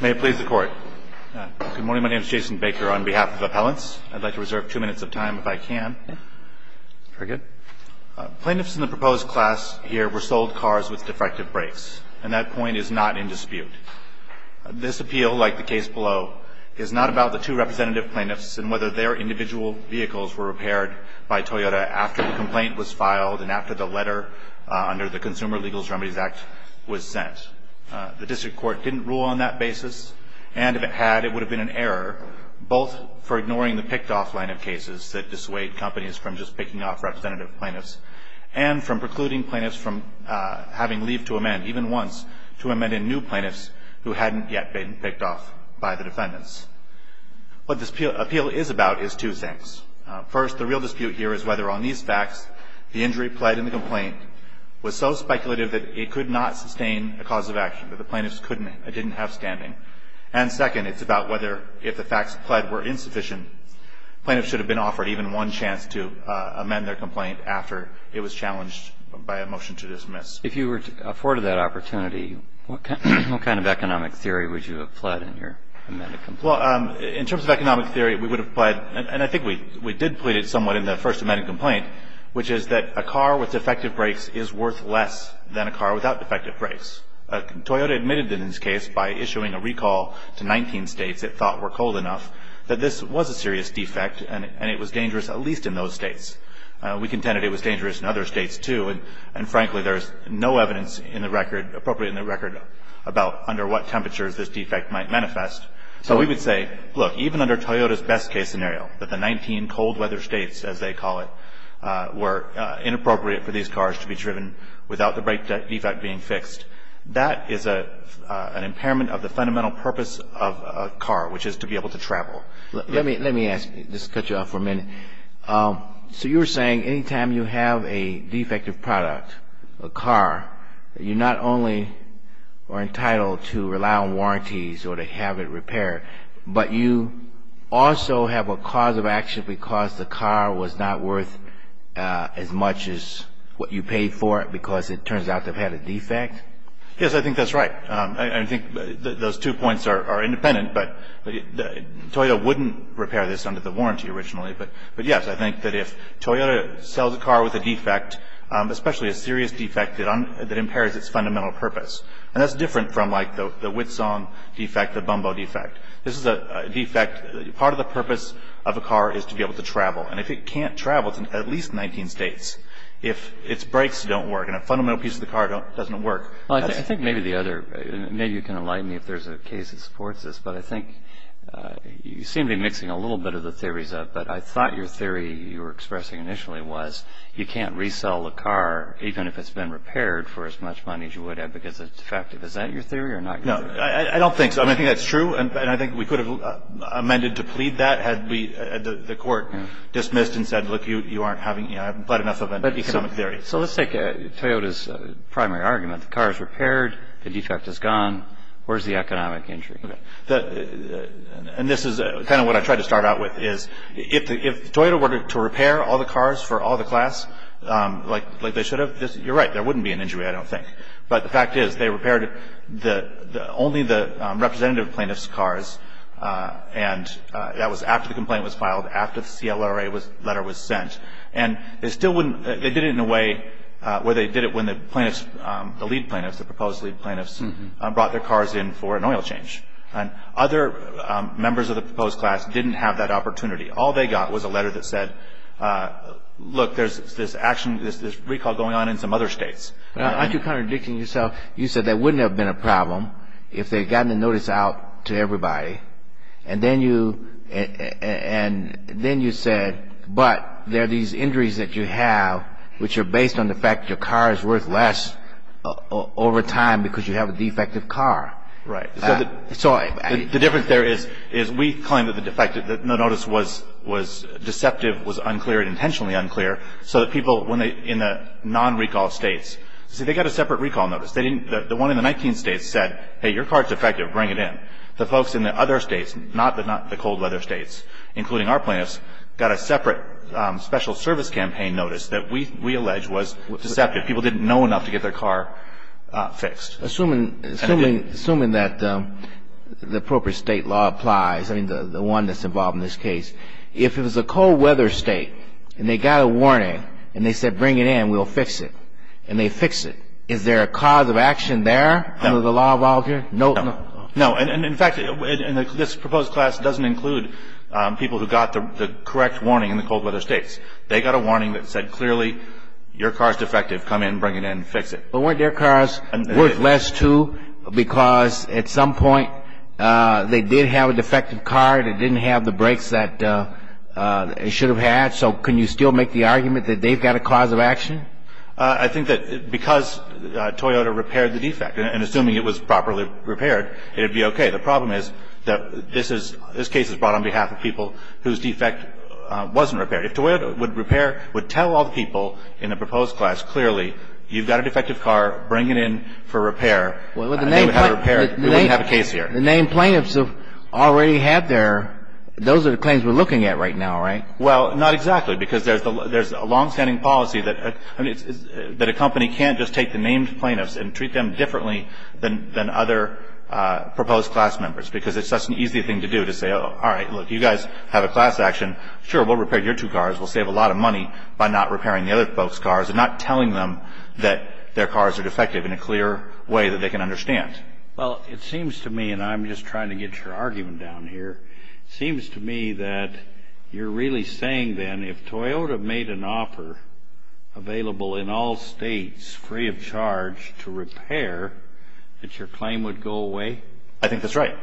May it please the Court. Good morning. My name is Jason Baker. On behalf of Appellants, I'd like to reserve two minutes of time if I can. Very good. Plaintiffs in the proposed class here were sold cars with defective brakes, and that point is not in dispute. This appeal, like the case below, is not about the two representative plaintiffs and whether their individual vehicles were repaired by Toyota after the complaint was filed and after the letter under the Consumer Legal Remedies Act was sent. The district court didn't rule on that basis, and if it had, it would have been an error, both for ignoring the picked-off line of cases that dissuade companies from just picking off representative plaintiffs and from precluding plaintiffs from having leave to amend, even once, to amend in new plaintiffs who hadn't yet been picked off by the defendants. What this appeal is about is two things. First, the real dispute here is whether, on these facts, the injury pled in the complaint was so speculative that it could not sustain a cause of action, that the plaintiffs couldn't, didn't have standing. And second, it's about whether, if the facts pled were insufficient, plaintiffs should have been offered even one chance to amend their complaint after it was challenged by a motion to dismiss. If you were afforded that opportunity, what kind of economic theory would you have pled in your amended complaint? Well, in terms of economic theory, we would have pled, and I think we did plead it somewhat in the first amended complaint, which is that a car with defective brakes is worth less than a car without defective brakes. Toyota admitted in this case, by issuing a recall to 19 states it thought were cold enough, that this was a serious defect and it was dangerous, at least in those states. We contended it was dangerous in other states, too, and, frankly, there is no evidence in the record, appropriate in the record, about under what temperatures this defect might manifest. So we would say, look, even under Toyota's best-case scenario, that the 19 cold-weather states, as they call it, were inappropriate for these cars to be driven without the brake defect being fixed. That is an impairment of the fundamental purpose of a car, which is to be able to travel. Let me ask you, just to cut you off for a minute. So you were saying any time you have a defective product, a car, you not only are entitled to rely on warranties or to have it repaired, but you also have a cause of action because the car was not worth as much as what you paid for it because it turns out they've had a defect? Yes, I think that's right. I think those two points are independent, but Toyota wouldn't repair this under the warranty originally. But, yes, I think that if Toyota sells a car with a defect, especially a serious defect that impairs its fundamental purpose, and that's different from, like, the Whitson defect, the Bumbo defect. This is a defect, part of the purpose of a car is to be able to travel, and if it can't travel, it's in at least 19 states. If its brakes don't work and a fundamental piece of the car doesn't work. I think maybe the other, maybe you can enlighten me if there's a case that supports this, but I think you seem to be mixing a little bit of the theories up, but I thought your theory you were expressing initially was you can't resell a car even if it's been repaired for as much money as you would have because it's defective. Is that your theory or not your theory? No, I don't think so. I think that's true, and I think we could have amended to plead that had the court dismissed and said, look, you aren't having, you know, I haven't plied enough of an economic theory. So let's take Toyota's primary argument. The car is repaired, the defect is gone, where's the economic injury? And this is kind of what I tried to start out with is if Toyota were to repair all the cars for all the class like they should have, you're right, there wouldn't be an injury, I don't think. But the fact is they repaired only the representative plaintiff's cars, and that was after the complaint was filed, after the CLRA letter was sent. And they still wouldn't, they did it in a way where they did it when the plaintiffs, the lead plaintiffs, the proposed lead plaintiffs brought their cars in for an oil change. Other members of the proposed class didn't have that opportunity. All they got was a letter that said, look, there's this action, there's this recall going on in some other states. Aren't you contradicting yourself? You said there wouldn't have been a problem if they had gotten the notice out to everybody, and then you said, but there are these injuries that you have which are based on the fact your car is worth less over time because you have a defective car. Right. So the difference there is we claim that the defective, the notice was deceptive, was unclear, intentionally unclear, so that people in the non-recall states, see, they got a separate recall notice. The one in the 19 states said, hey, your car is defective, bring it in. The folks in the other states, not the cold weather states, including our plaintiffs, got a separate special service campaign notice that we allege was deceptive. People didn't know enough to get their car fixed. Assuming that the appropriate state law applies, I mean, the one that's involved in this case, if it was a cold weather state and they got a warning and they said, bring it in, we'll fix it, and they fix it, is there a cause of action there under the law of all here? No. No. And, in fact, this proposed class doesn't include people who got the correct warning in the cold weather states. They got a warning that said, clearly, your car is defective, come in, bring it in, fix it. But weren't their cars worth less, too, because at some point they did have a defective car that didn't have the brakes that it should have had? So can you still make the argument that they've got a cause of action? I think that because Toyota repaired the defect, and assuming it was properly repaired, it would be okay. The problem is that this case is brought on behalf of people whose defect wasn't repaired. If Toyota would repair, would tell all the people in the proposed class, clearly, you've got a defective car, bring it in for repair, and they would have it repaired, we wouldn't have a case here. The named plaintiffs have already had their – those are the claims we're looking at right now, right? Well, not exactly, because there's a longstanding policy that a company can't just take the named plaintiffs and treat them differently than other proposed class members, because it's such an easy thing to do to say, all right, look, you guys have a class action. Sure, we'll repair your two cars. We'll save a lot of money by not repairing the other folks' cars and not telling them that their cars are defective in a clear way that they can understand. Well, it seems to me, and I'm just trying to get your argument down here, it seems to me that you're really saying, then, if Toyota made an offer available in all states, free of charge, to repair, that your claim would go away? I think that's right.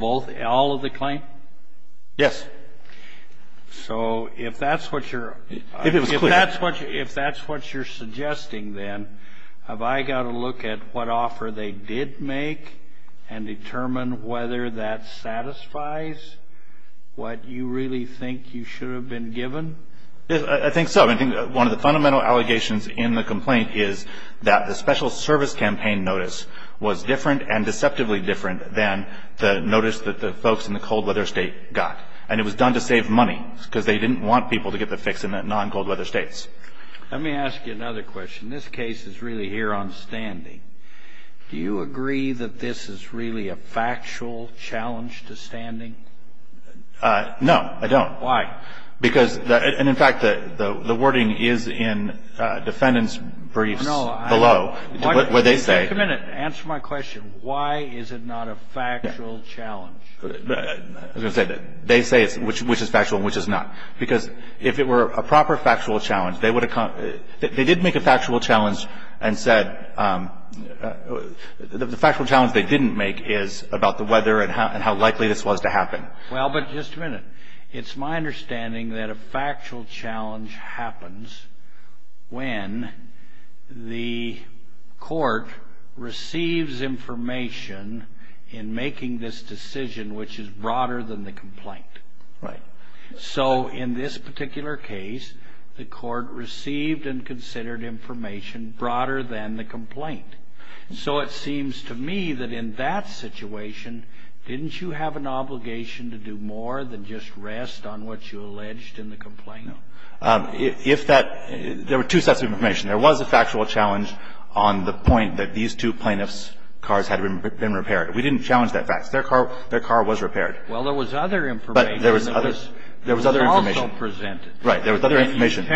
All of the claim? Yes. So if that's what you're – If it was clear. If that's what you're suggesting, then, have I got to look at what offer they did make and determine whether that satisfies what you really think you should have been given? I think so. I think one of the fundamental allegations in the complaint is that the special service campaign notice was different and deceptively different than the notice that the folks in the cold-weather state got, and it was done to save money because they didn't want people to get the fix in the non-cold-weather states. Let me ask you another question. This case is really here on standing. Do you agree that this is really a factual challenge to standing? No, I don't. Why? Because – and, in fact, the wording is in defendants' briefs below where they say – Just a minute. Answer my question. Why is it not a factual challenge? They say which is factual and which is not, because if it were a proper factual challenge, they would have – they did make a factual challenge and said – the factual challenge they didn't make is about the weather and how likely this was to happen. Well, but just a minute. It's my understanding that a factual challenge happens when the court receives information in making this decision which is broader than the complaint. Right. So, in this particular case, the court received and considered information broader than the complaint. So it seems to me that in that situation, didn't you have an obligation to do more than just rest on what you alleged in the complaint? If that – there were two sets of information. There was a factual challenge on the point that these two plaintiffs' cars had been repaired. We didn't challenge that fact. Their car was repaired. Well, there was other information. But there was other – there was other information. Also presented. There was other information.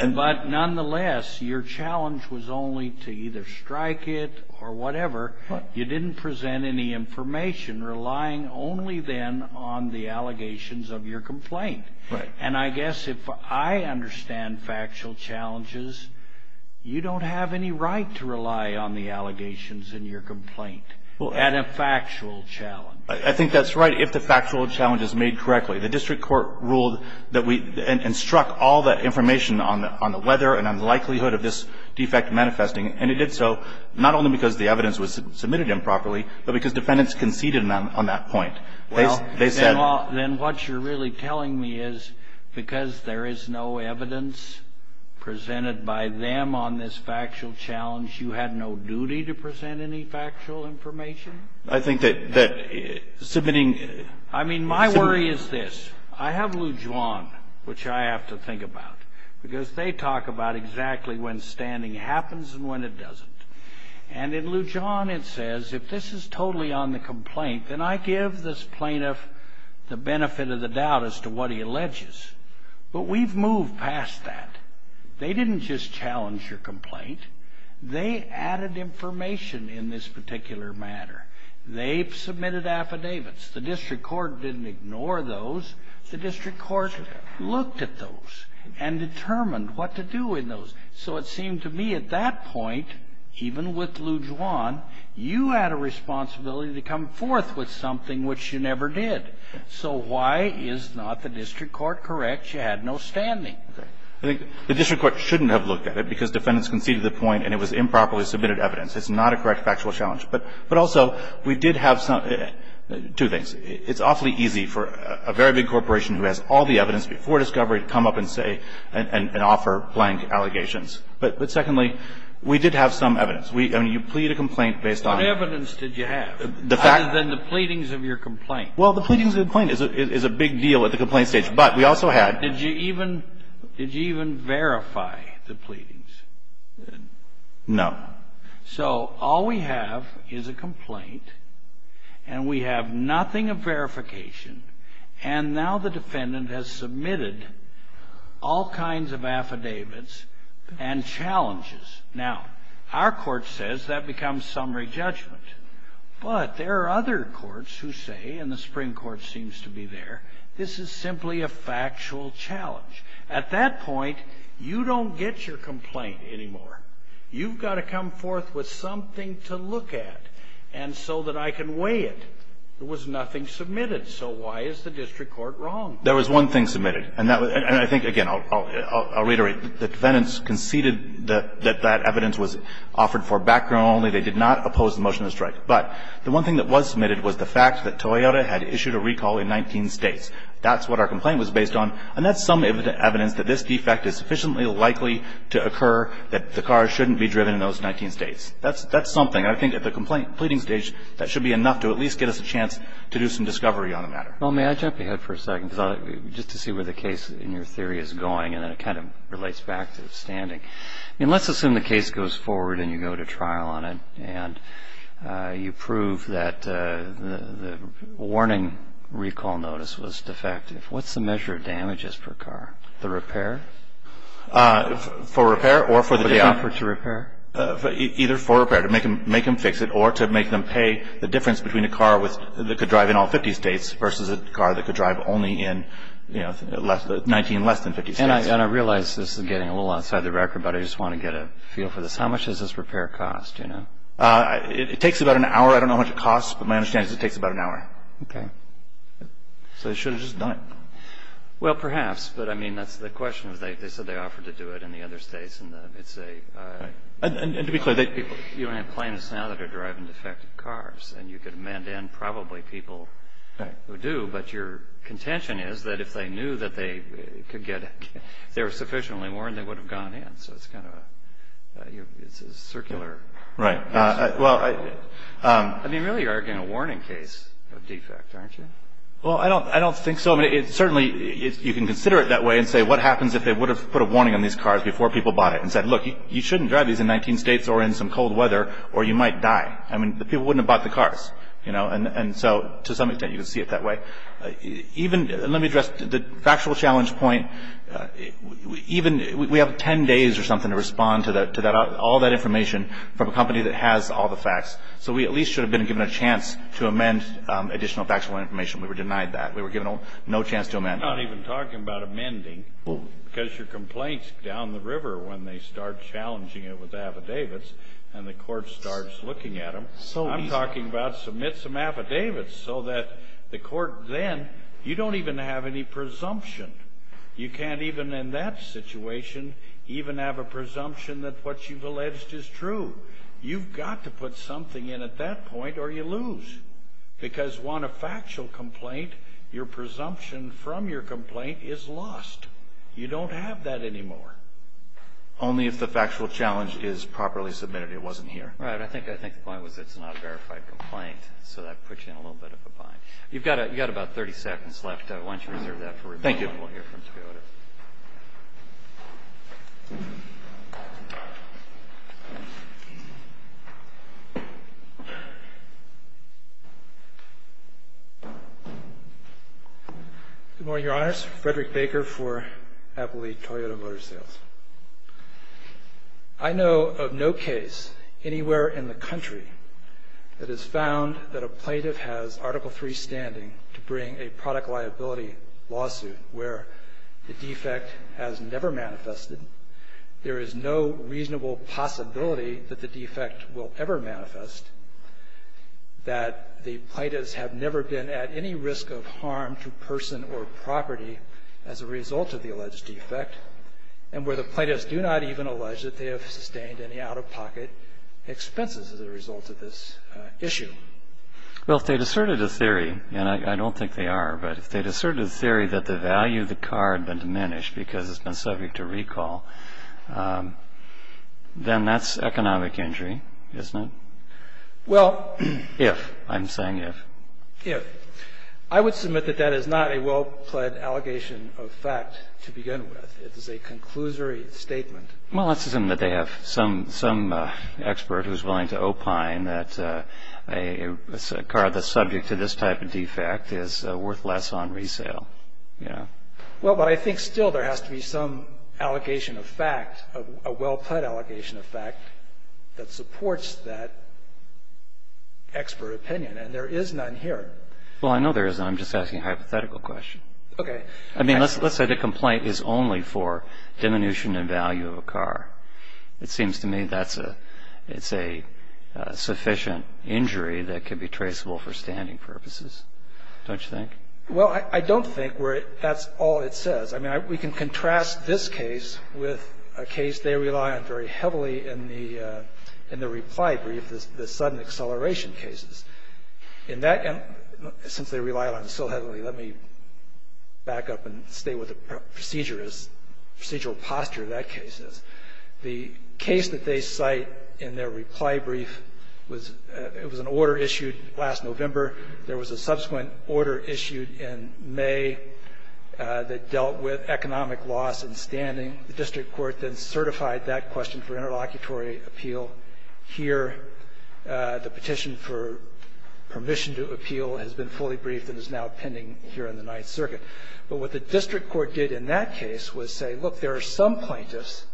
But nonetheless, your challenge was only to either strike it or whatever. You didn't present any information relying only then on the allegations of your complaint. Right. And I guess if I understand factual challenges, you don't have any right to rely on the allegations in your complaint at a factual challenge. I think that's right if the factual challenge is made correctly. The district court ruled that we – and struck all the information on the weather and on the likelihood of this defect manifesting. And it did so not only because the evidence was submitted improperly, but because defendants conceded on that point. They said – Well, then what you're really telling me is because there is no evidence presented by them on this factual challenge, you had no duty to present any factual information? I think that submitting – I mean, my worry is this. I have Lujuan, which I have to think about, because they talk about exactly when standing happens and when it doesn't. And in Lujuan it says if this is totally on the complaint, then I give this plaintiff the benefit of the doubt as to what he alleges. But we've moved past that. They didn't just challenge your complaint. They added information in this particular matter. They've submitted affidavits. The district court didn't ignore those. The district court looked at those and determined what to do in those. So it seemed to me at that point, even with Lujuan, you had a responsibility to come forth with something which you never did. So why is not the district court correct? You had no standing. I think the district court shouldn't have looked at it because defendants conceded the point and it was improperly submitted evidence. It's not a correct factual challenge. But also, we did have two things. It's awfully easy for a very big corporation who has all the evidence before discovery to come up and say and offer blank allegations. But secondly, we did have some evidence. I mean, you plead a complaint based on. What evidence did you have other than the pleadings of your complaint? Well, the pleadings of the complaint is a big deal at the complaint stage. But we also had. Did you even verify the pleadings? No. So all we have is a complaint. And we have nothing of verification. And now the defendant has submitted all kinds of affidavits and challenges. Now, our court says that becomes summary judgment. But there are other courts who say, and the Supreme Court seems to be there, this is simply a factual challenge. At that point, you don't get your complaint anymore. You've got to come forth with something to look at. And so that I can weigh it. There was nothing submitted. So why is the district court wrong? There was one thing submitted. And I think, again, I'll reiterate. The defendants conceded that that evidence was offered for background only. They did not oppose the motion of the strike. But the one thing that was submitted was the fact that Toyota had issued a recall in 19 states. That's what our complaint was based on. And that's some evidence that this defect is sufficiently likely to occur, that the car shouldn't be driven in those 19 states. That's something. I think at the pleading stage, that should be enough to at least get us a chance to do some discovery on the matter. Well, may I jump ahead for a second just to see where the case in your theory is going. And then it kind of relates back to standing. I mean, let's assume the case goes forward and you go to trial on it. And you prove that the warning recall notice was defective. What's the measure of damages per car? The repair? For repair or for the deal. For the offer to repair? Either for repair, to make them fix it, or to make them pay the difference between a car that could drive in all 50 states versus a car that could drive only in 19 less than 50 states. And I realize this is getting a little outside the record, but I just want to get a feel for this. How much does this repair cost? It takes about an hour. I don't know how much it costs, but my understanding is it takes about an hour. Okay. So they should have just done it. Well, perhaps. But, I mean, that's the question. They said they offered to do it in the other states. And it's a... And to be clear, they... You don't have plaintiffs now that are driving defective cars. And you could amend in probably people who do. But your contention is that if they knew that they could get... If they were sufficiently warned, they would have gone in. So it's kind of a... It's a circular... Right. Well... I mean, you're really arguing a warning case of defect, aren't you? Well, I don't think so. I mean, it's certainly... You can consider it that way and say, what happens if they would have put a warning on these cars before people bought it and said, look, you shouldn't drive these in 19 states or in some cold weather, or you might die. I mean, people wouldn't have bought the cars. And so, to some extent, you can see it that way. Even... Let me address the factual challenge point. Even... We have 10 days or something to respond to all that information from a company that has all the facts. So we at least should have been given a chance to amend additional factual information. We were denied that. We were given no chance to amend that. We're not even talking about amending, because your complaints down the river when they start challenging it with affidavits and the court starts looking at them, I'm talking about submit some affidavits so that the court then... You don't even have any presumption. You can't even in that situation even have a presumption that what you've alleged is true. You've got to put something in at that point, or you lose. Because, one, a factual complaint, your presumption from your complaint is lost. You don't have that anymore. Only if the factual challenge is properly submitted. It wasn't here. Right. I think the point was it's not a verified complaint, so that puts you in a little bit of a bind. You've got about 30 seconds left. Why don't you reserve that for... Thank you. We won't hear from Toyota. Good morning, Your Honors. Frederick Baker for Appley Toyota Motor Sales. I know of no case anywhere in the country that has found that a plaintiff has Article III standing to bring a product liability lawsuit where the defect has never manifested, there is no reasonable possibility that the defect will ever manifest, that the plaintiffs have never been at any risk of harm to person or property as a result of the alleged defect, and where the plaintiffs do not even allege that they have sustained any out-of-pocket expenses as a result of this issue. Well, if they'd asserted a theory, and I don't think they are, but if they'd asserted a theory that the value of the car had been diminished because it's been subject to recall, then that's economic injury, isn't it? Well... If. I'm saying if. If. I would submit that that is not a well-pledged allegation of fact to begin with. It is a conclusory statement. Well, let's assume that they have some expert who's willing to opine that a car that's subject to this type of defect is worth less on resale. Well, but I think still there has to be some allegation of fact, a well-pledged allegation of fact that supports that expert opinion, and there is none here. Well, I know there is, and I'm just asking a hypothetical question. Okay. I mean, let's say the complaint is only for diminution in value of a car. It seems to me that's a sufficient injury that can be traceable for standing purposes. Don't you think? Well, I don't think that's all it says. I mean, we can contrast this case with a case they rely on very heavily in the reply brief, the sudden acceleration cases. And since they rely on it so heavily, let me back up and stay with the procedural posture of that case. The case that they cite in their reply brief, it was an order issued last November. There was a subsequent order issued in May that dealt with economic loss in standing. The district court then certified that question for interlocutory appeal. Here, the petition for permission to appeal has been fully briefed and is now pending here in the Ninth Circuit. But what the district court did in that case was say, look, there are some plaintiffs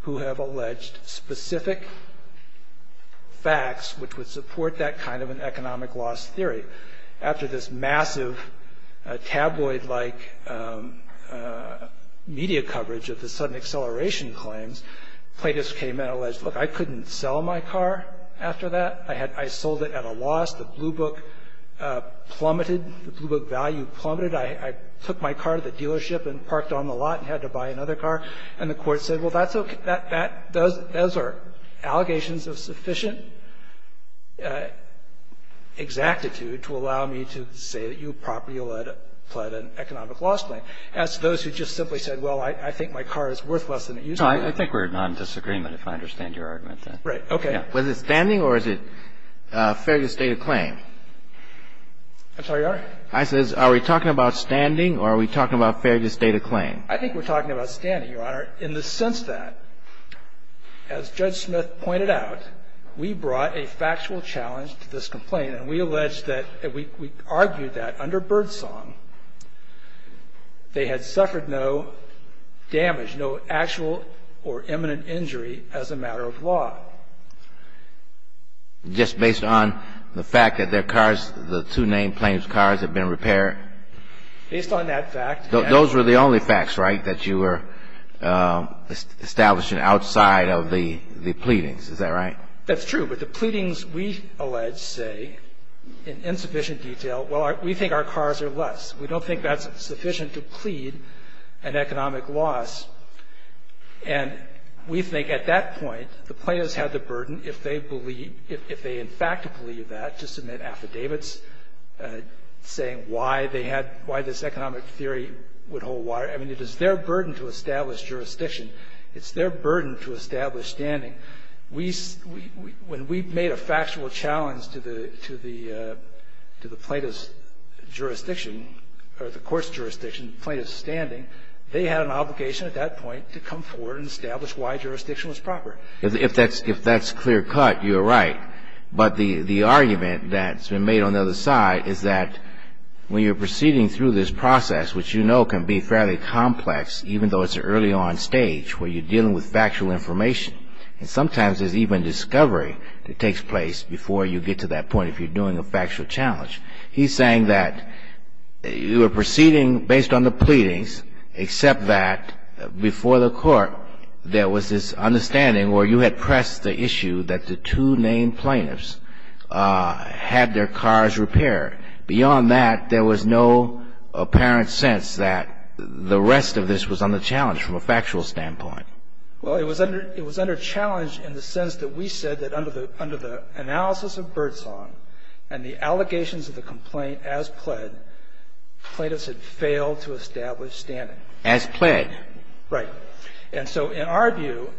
who have alleged specific facts which would support that kind of an economic loss theory. After this massive tabloid-like media coverage of the sudden acceleration claims, plaintiffs came and alleged, look, I couldn't sell my car after that. I sold it at a loss. The Blue Book plummeted. The Blue Book value plummeted. I took my car to the dealership and parked on the lot and had to buy another car. And the court said, well, that's okay. Those are allegations of sufficient exactitude to allow me to say that you properly allege an economic loss claim. As to those who just simply said, well, I think my car is worth less than it used to be. I don't know. I think we're in non-disagreement, if I understand your argument. Right. Okay. Was it standing or is it fair to state a claim? I'm sorry, Your Honor? I said, are we talking about standing or are we talking about fair to state a claim? I think we're talking about standing, Your Honor, in the sense that, as Judge Smith pointed out, we brought a factual challenge to this complaint and we alleged that we argued that under Birdsong, they had suffered no damage, no actual or imminent injury as a matter of law. Just based on the fact that their cars, the two named plaintiff's cars, had been repaired? Based on that fact. Those were the only facts, right, that you were establishing outside of the pleadings. Is that right? That's true. But the pleadings, we allege, say in insufficient detail, well, we think our cars are less. We don't think that's sufficient to plead an economic loss. And we think at that point the plaintiffs had the burden, if they believe, if they in fact believe that, to submit affidavits saying why they had, why this economic theory would hold water. I mean, it is their burden to establish jurisdiction. It's their burden to establish standing. When we made a factual challenge to the plaintiff's jurisdiction, or the court's jurisdiction, the plaintiff's standing, they had an obligation at that point to come forward and establish why jurisdiction was proper. If that's clear cut, you're right. But the argument that's been made on the other side is that when you're proceeding through this process, which you know can be fairly complex, even though it's an early on stage where you're dealing with factual information, and sometimes there's even discovery that takes place before you get to that point if you're doing a factual challenge. He's saying that you are proceeding based on the pleadings, except that before the court there was this understanding where you had pressed the issue that the two named plaintiffs had their cars repaired. Beyond that, there was no apparent sense that the rest of this was on the challenge from a factual standpoint. Well, it was under challenge in the sense that we said that under the analysis of Birdsong and the allegations of the complaint as pled, plaintiffs had failed to establish standing. As pled. Right. And so in our view,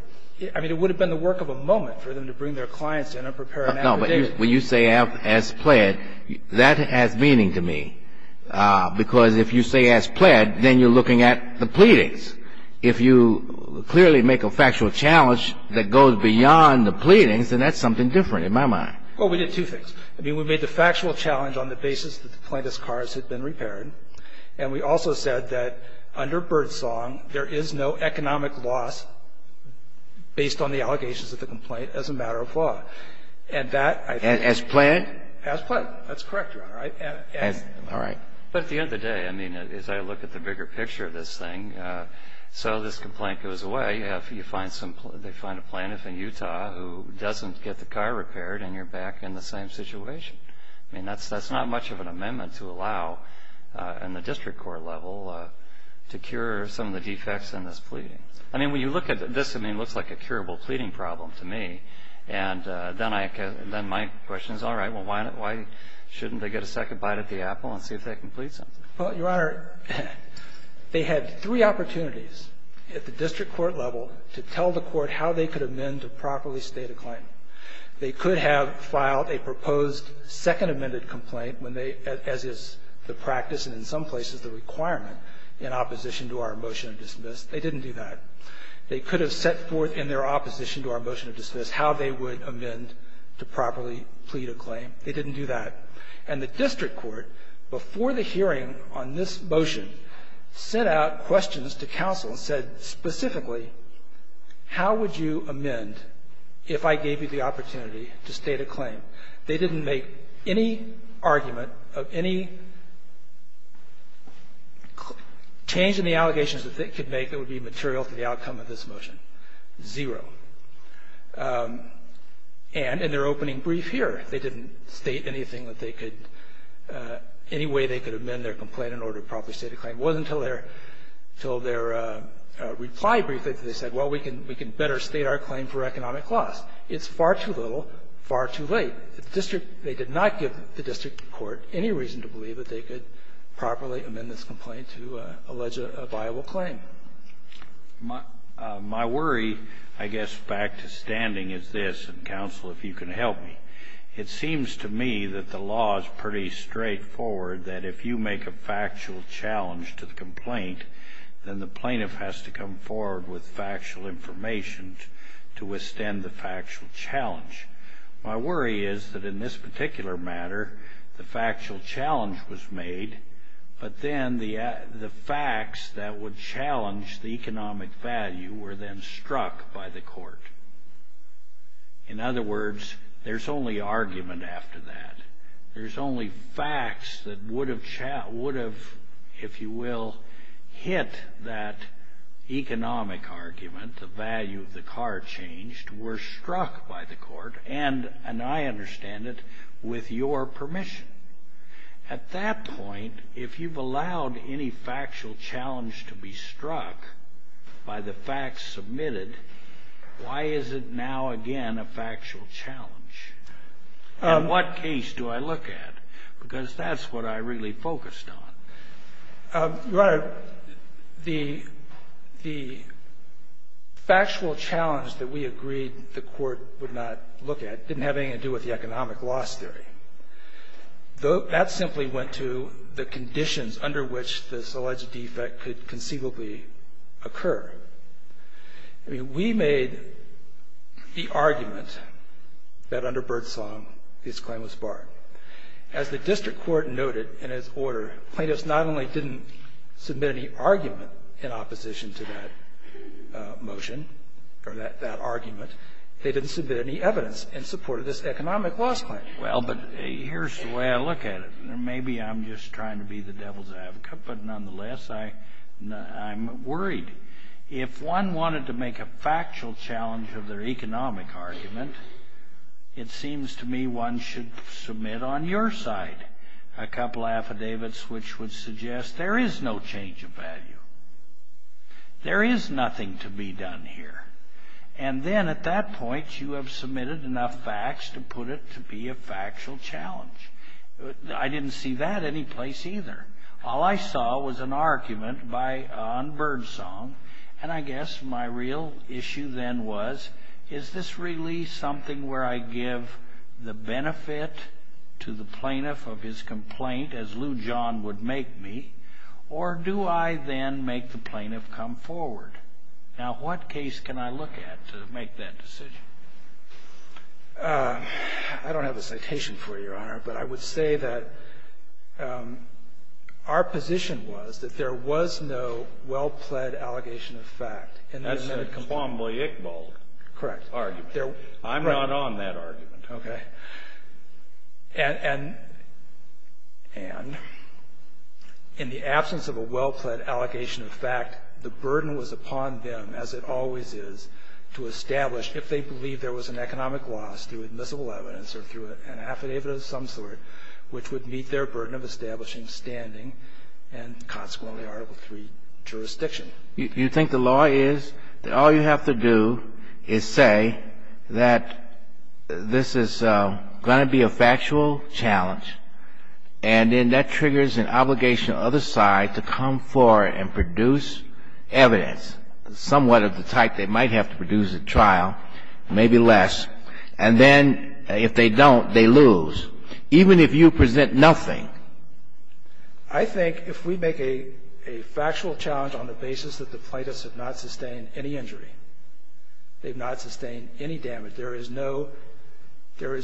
I mean, it would have been the work of a moment for them to bring their clients in and prepare an affidavit. No, but when you say as pled, that has meaning to me. Because if you say as pled, then you're looking at the pleadings. If you clearly make a factual challenge that goes beyond the pleadings, then that's something different in my mind. Well, we did two things. I mean, we made the factual challenge on the basis that the plaintiff's cars had been repaired. And we also said that under Birdsong, there is no economic loss based on the allegations of the complaint as a matter of law. And that, I think. As pled? As pled. That's correct, Your Honor. All right. But at the end of the day, I mean, as I look at the bigger picture of this thing, so this complaint goes away. They find a plaintiff in Utah who doesn't get the car repaired, and you're back in the same situation. I mean, that's not much of an amendment to allow in the district court level to cure some of the defects in this pleading. I mean, when you look at this, I mean, it looks like a curable pleading problem to me. And then my question is, all right, well, why shouldn't they get a second bite at the apple and see if they can plead something? Well, Your Honor, they had three opportunities at the district court level to tell the court how they could amend to properly state a claim. They could have filed a proposed second amended complaint when they, as is the practice and in some places the requirement in opposition to our motion of dismiss, they didn't do that. They could have set forth in their opposition to our motion of dismiss how they would amend to properly plead a claim. They didn't do that. And the district court, before the hearing on this motion, sent out questions to counsel and said specifically, how would you amend if I gave you the opportunity to state a claim? They didn't make any argument of any change in the allegations that they could make that would be material to the outcome of this motion, zero. And in their opening brief here, they didn't state anything that they could, any way they could amend their complaint in order to properly state a claim. It wasn't until their reply brief that they said, well, we can better state our claim for economic loss. It's far too little, far too late. The district, they did not give the district court any reason to believe that they could properly amend this complaint to allege a viable claim. My worry, I guess, back to standing is this, and counsel, if you can help me. It seems to me that the law is pretty straightforward that if you make a factual challenge to the complaint, then the plaintiff has to come forward with factual information to withstand the factual challenge. My worry is that in this particular matter, the factual challenge was made, but then the facts that would challenge the economic value were then struck by the court. In other words, there's only argument after that. There's only facts that would have, if you will, hit that economic argument, the value of the car changed, were struck by the court, and I understand it, with your permission. At that point, if you've allowed any factual challenge to be struck by the facts submitted, why is it now again a factual challenge? And what case do I look at? Because that's what I really focused on. Your Honor, the factual challenge that we agreed the court would not look at didn't have anything to do with the economic loss theory. That simply went to the conditions under which this alleged defect could conceivably occur. I mean, we made the argument that under Birdsong, his claim was barred. As the district court noted in its order, plaintiffs not only didn't submit any argument in opposition to that motion or that argument, they didn't submit any evidence in support of this economic loss claim. Well, but here's the way I look at it. Maybe I'm just trying to be the devil's advocate, but nonetheless, I'm worried. If one wanted to make a factual challenge of their economic argument, it seems to me one should submit on your side a couple affidavits which would suggest there is no change of value. There is nothing to be done here. And then at that point, you have submitted enough facts to put it to be a factual challenge. I didn't see that any place either. All I saw was an argument on Birdsong, and I guess my real issue then was, is this really something where I give the benefit to the plaintiff of his complaint, as Lou John would make me, or do I then make the plaintiff come forward? Now, what case can I look at to make that decision? I don't have a citation for you, Your Honor, but I would say that our position was that there was no well-pled allegation of fact. That's a conformably Iqbal argument. Correct. I'm not on that argument. Okay. And, Anne, in the absence of a well-pled allegation of fact, the burden was upon them, as it always is, to establish if they believe there was an economic loss through admissible evidence or through an affidavit of some sort which would meet their burden of establishing standing and consequently Article III jurisdiction. You think the law is that all you have to do is say that this is going to be a factual challenge, and then that triggers an obligation on the other side to come forward and produce evidence somewhat of the type they might have to produce at trial, maybe less, and then if they don't, they lose, even if you present nothing? I think if we make a factual challenge on the basis that the plaintiffs have not sustained any injury, they've not sustained any damage, there is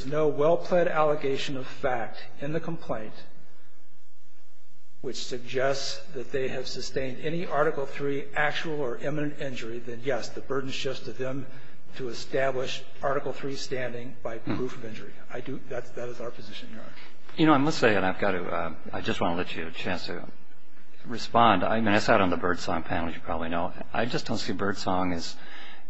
no well-pled allegation of fact in the complaint which suggests that they have sustained any Article III actual or imminent injury, then, yes, the burden is just to them to establish Article III standing by proof of injury. That is our position, Your Honor. You know, I must say, and I've got to, I just want to let you have a chance to respond. I sat on the Birdsong panel, as you probably know. I just don't see Birdsong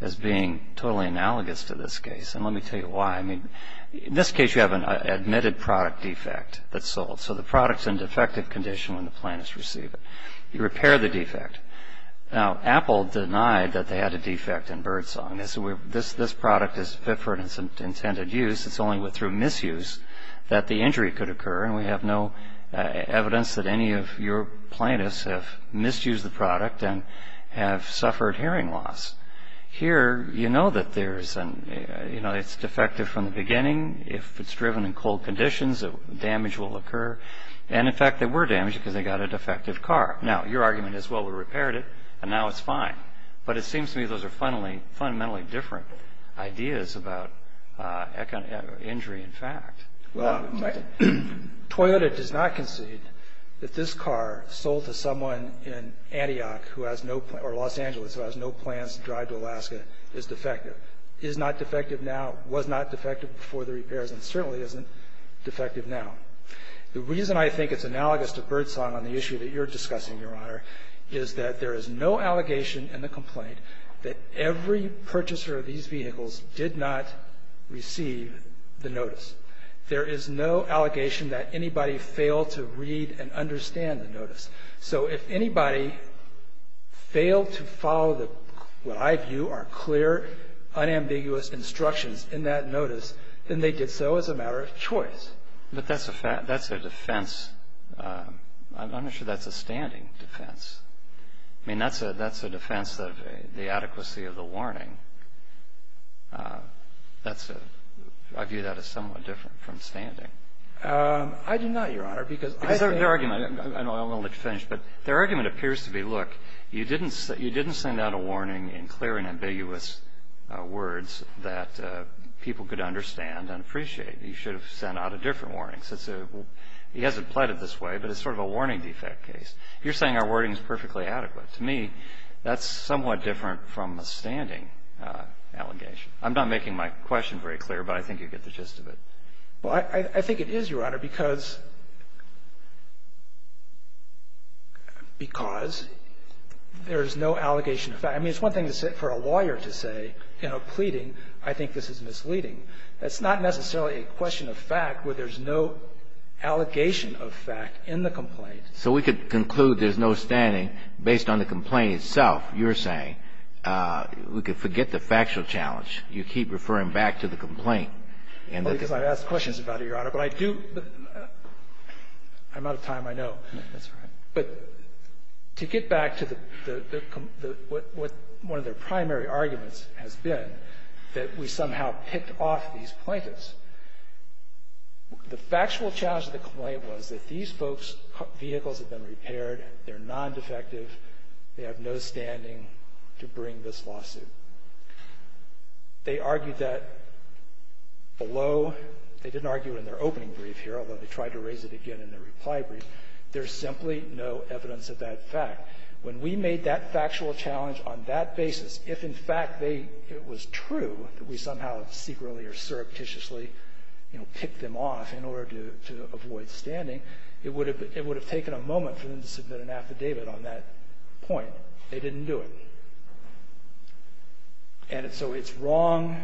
as being totally analogous to this case, and let me tell you why. I mean, in this case, you have an admitted product defect that's sold. So the product's in defective condition when the plaintiffs receive it. You repair the defect. Now, Apple denied that they had a defect in Birdsong. They said this product is fit for its intended use. It's only through misuse that the injury could occur, and we have no evidence that any of your plaintiffs have misused the product and have suffered hearing loss. Here, you know that it's defective from the beginning. If it's driven in cold conditions, damage will occur. And, in fact, they were damaged because they got a defective car. Now, your argument is, well, we repaired it, and now it's fine. But it seems to me those are fundamentally different ideas about injury in fact. Toyota does not concede that this car sold to someone in Antioch or Los Angeles who has no plans to drive to Alaska is defective. It is not defective now, was not defective before the repairs, and certainly isn't defective now. The reason I think it's analogous to Birdsong on the issue that you're discussing, Your Honor, is that there is no allegation in the complaint that every purchaser of these vehicles did not receive the notice. There is no allegation that anybody failed to read and understand the notice. So if anybody failed to follow what I view are clear, unambiguous instructions in that notice, then they did so as a matter of choice. But that's a defense. I'm not sure that's a standing defense. I mean, that's a defense of the adequacy of the warning. I view that as somewhat different from standing. I do not, Your Honor. Because their argument, I don't want to let you finish, but their argument appears to be, look, you didn't send out a warning in clear and ambiguous words that people could understand and appreciate. You should have sent out a different warning. He hasn't pleaded this way, but it's sort of a warning defect case. You're saying our wording is perfectly adequate. To me, that's somewhat different from a standing allegation. I'm not making my question very clear, but I think you get the gist of it. Well, I think it is, Your Honor, because there is no allegation of fact. I mean, it's one thing for a lawyer to say, you know, pleading, I think this is misleading. That's not necessarily a question of fact where there's no allegation of fact in the complaint. So we could conclude there's no standing based on the complaint itself. You're saying we could forget the factual challenge. You keep referring back to the complaint. Well, because I've asked questions about it, Your Honor. But I do – I'm out of time, I know. That's all right. But to get back to the – what one of their primary arguments has been, that we somehow picked off these plaintiffs, the factual challenge of the complaint was that these folks' vehicles had been repaired, they're non-defective, they have no standing to bring this lawsuit. They argued that below – they didn't argue it in their opening brief here, although they tried to raise it again in their reply brief. There's simply no evidence of that fact. When we made that factual challenge on that basis, if in fact it was true that we somehow secretly or surreptitiously, you know, picked them off in order to avoid standing, it would have taken a moment for them to submit an affidavit on that point. They didn't do it. And so it's wrong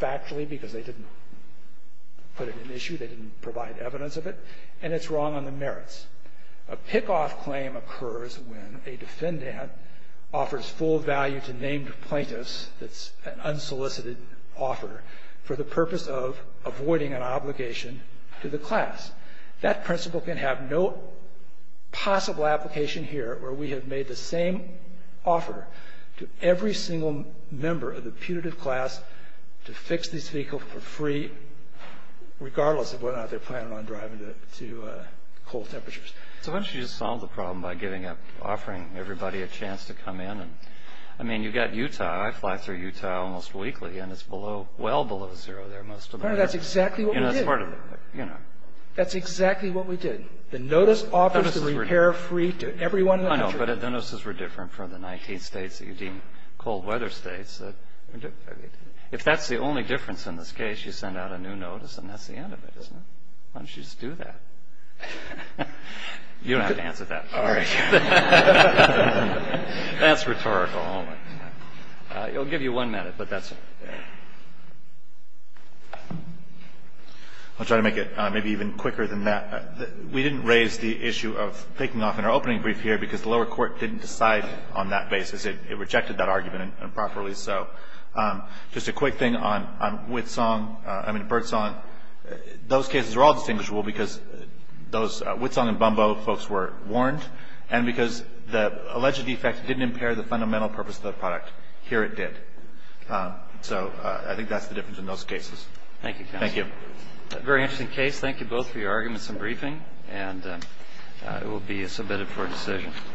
factually because they didn't put it in issue. They didn't provide evidence of it. And it's wrong on the merits. A pickoff claim occurs when a defendant offers full value to named plaintiffs that's an unsolicited offer for the purpose of avoiding an obligation to the class. That principle can have no possible application here where we have made the same offer to every single member of the putative class to fix these vehicles for free regardless of whether or not they're planning on driving to cold temperatures. So why don't you just solve the problem by giving up – offering everybody a chance to come in? I mean, you've got Utah. I fly through Utah almost weekly, and it's well below zero there most of the year. That's exactly what we did. That's exactly what we did. The notice offers the repair free to everyone in the country. I know, but the notices were different for the 19 states that you deemed cold weather states. If that's the only difference in this case, you send out a new notice, and that's the end of it, isn't it? Why don't you just do that? You don't have to answer that. All right. That's rhetorical. I'll give you one minute, but that's it. I'll try to make it maybe even quicker than that. We didn't raise the issue of picking off in our opening brief here because the lower court didn't decide on that basis. It rejected that argument improperly. So just a quick thing on Birdsong. Those cases are all distinguishable because those – Birdsong and Bumbo folks were warned, and because the alleged defect didn't impair the fundamental purpose of the product. Here it did. So I think that's the difference in those cases. Thank you, counsel. Thank you. Very interesting case. Thank you both for your arguments and briefing, and it will be submitted for decision.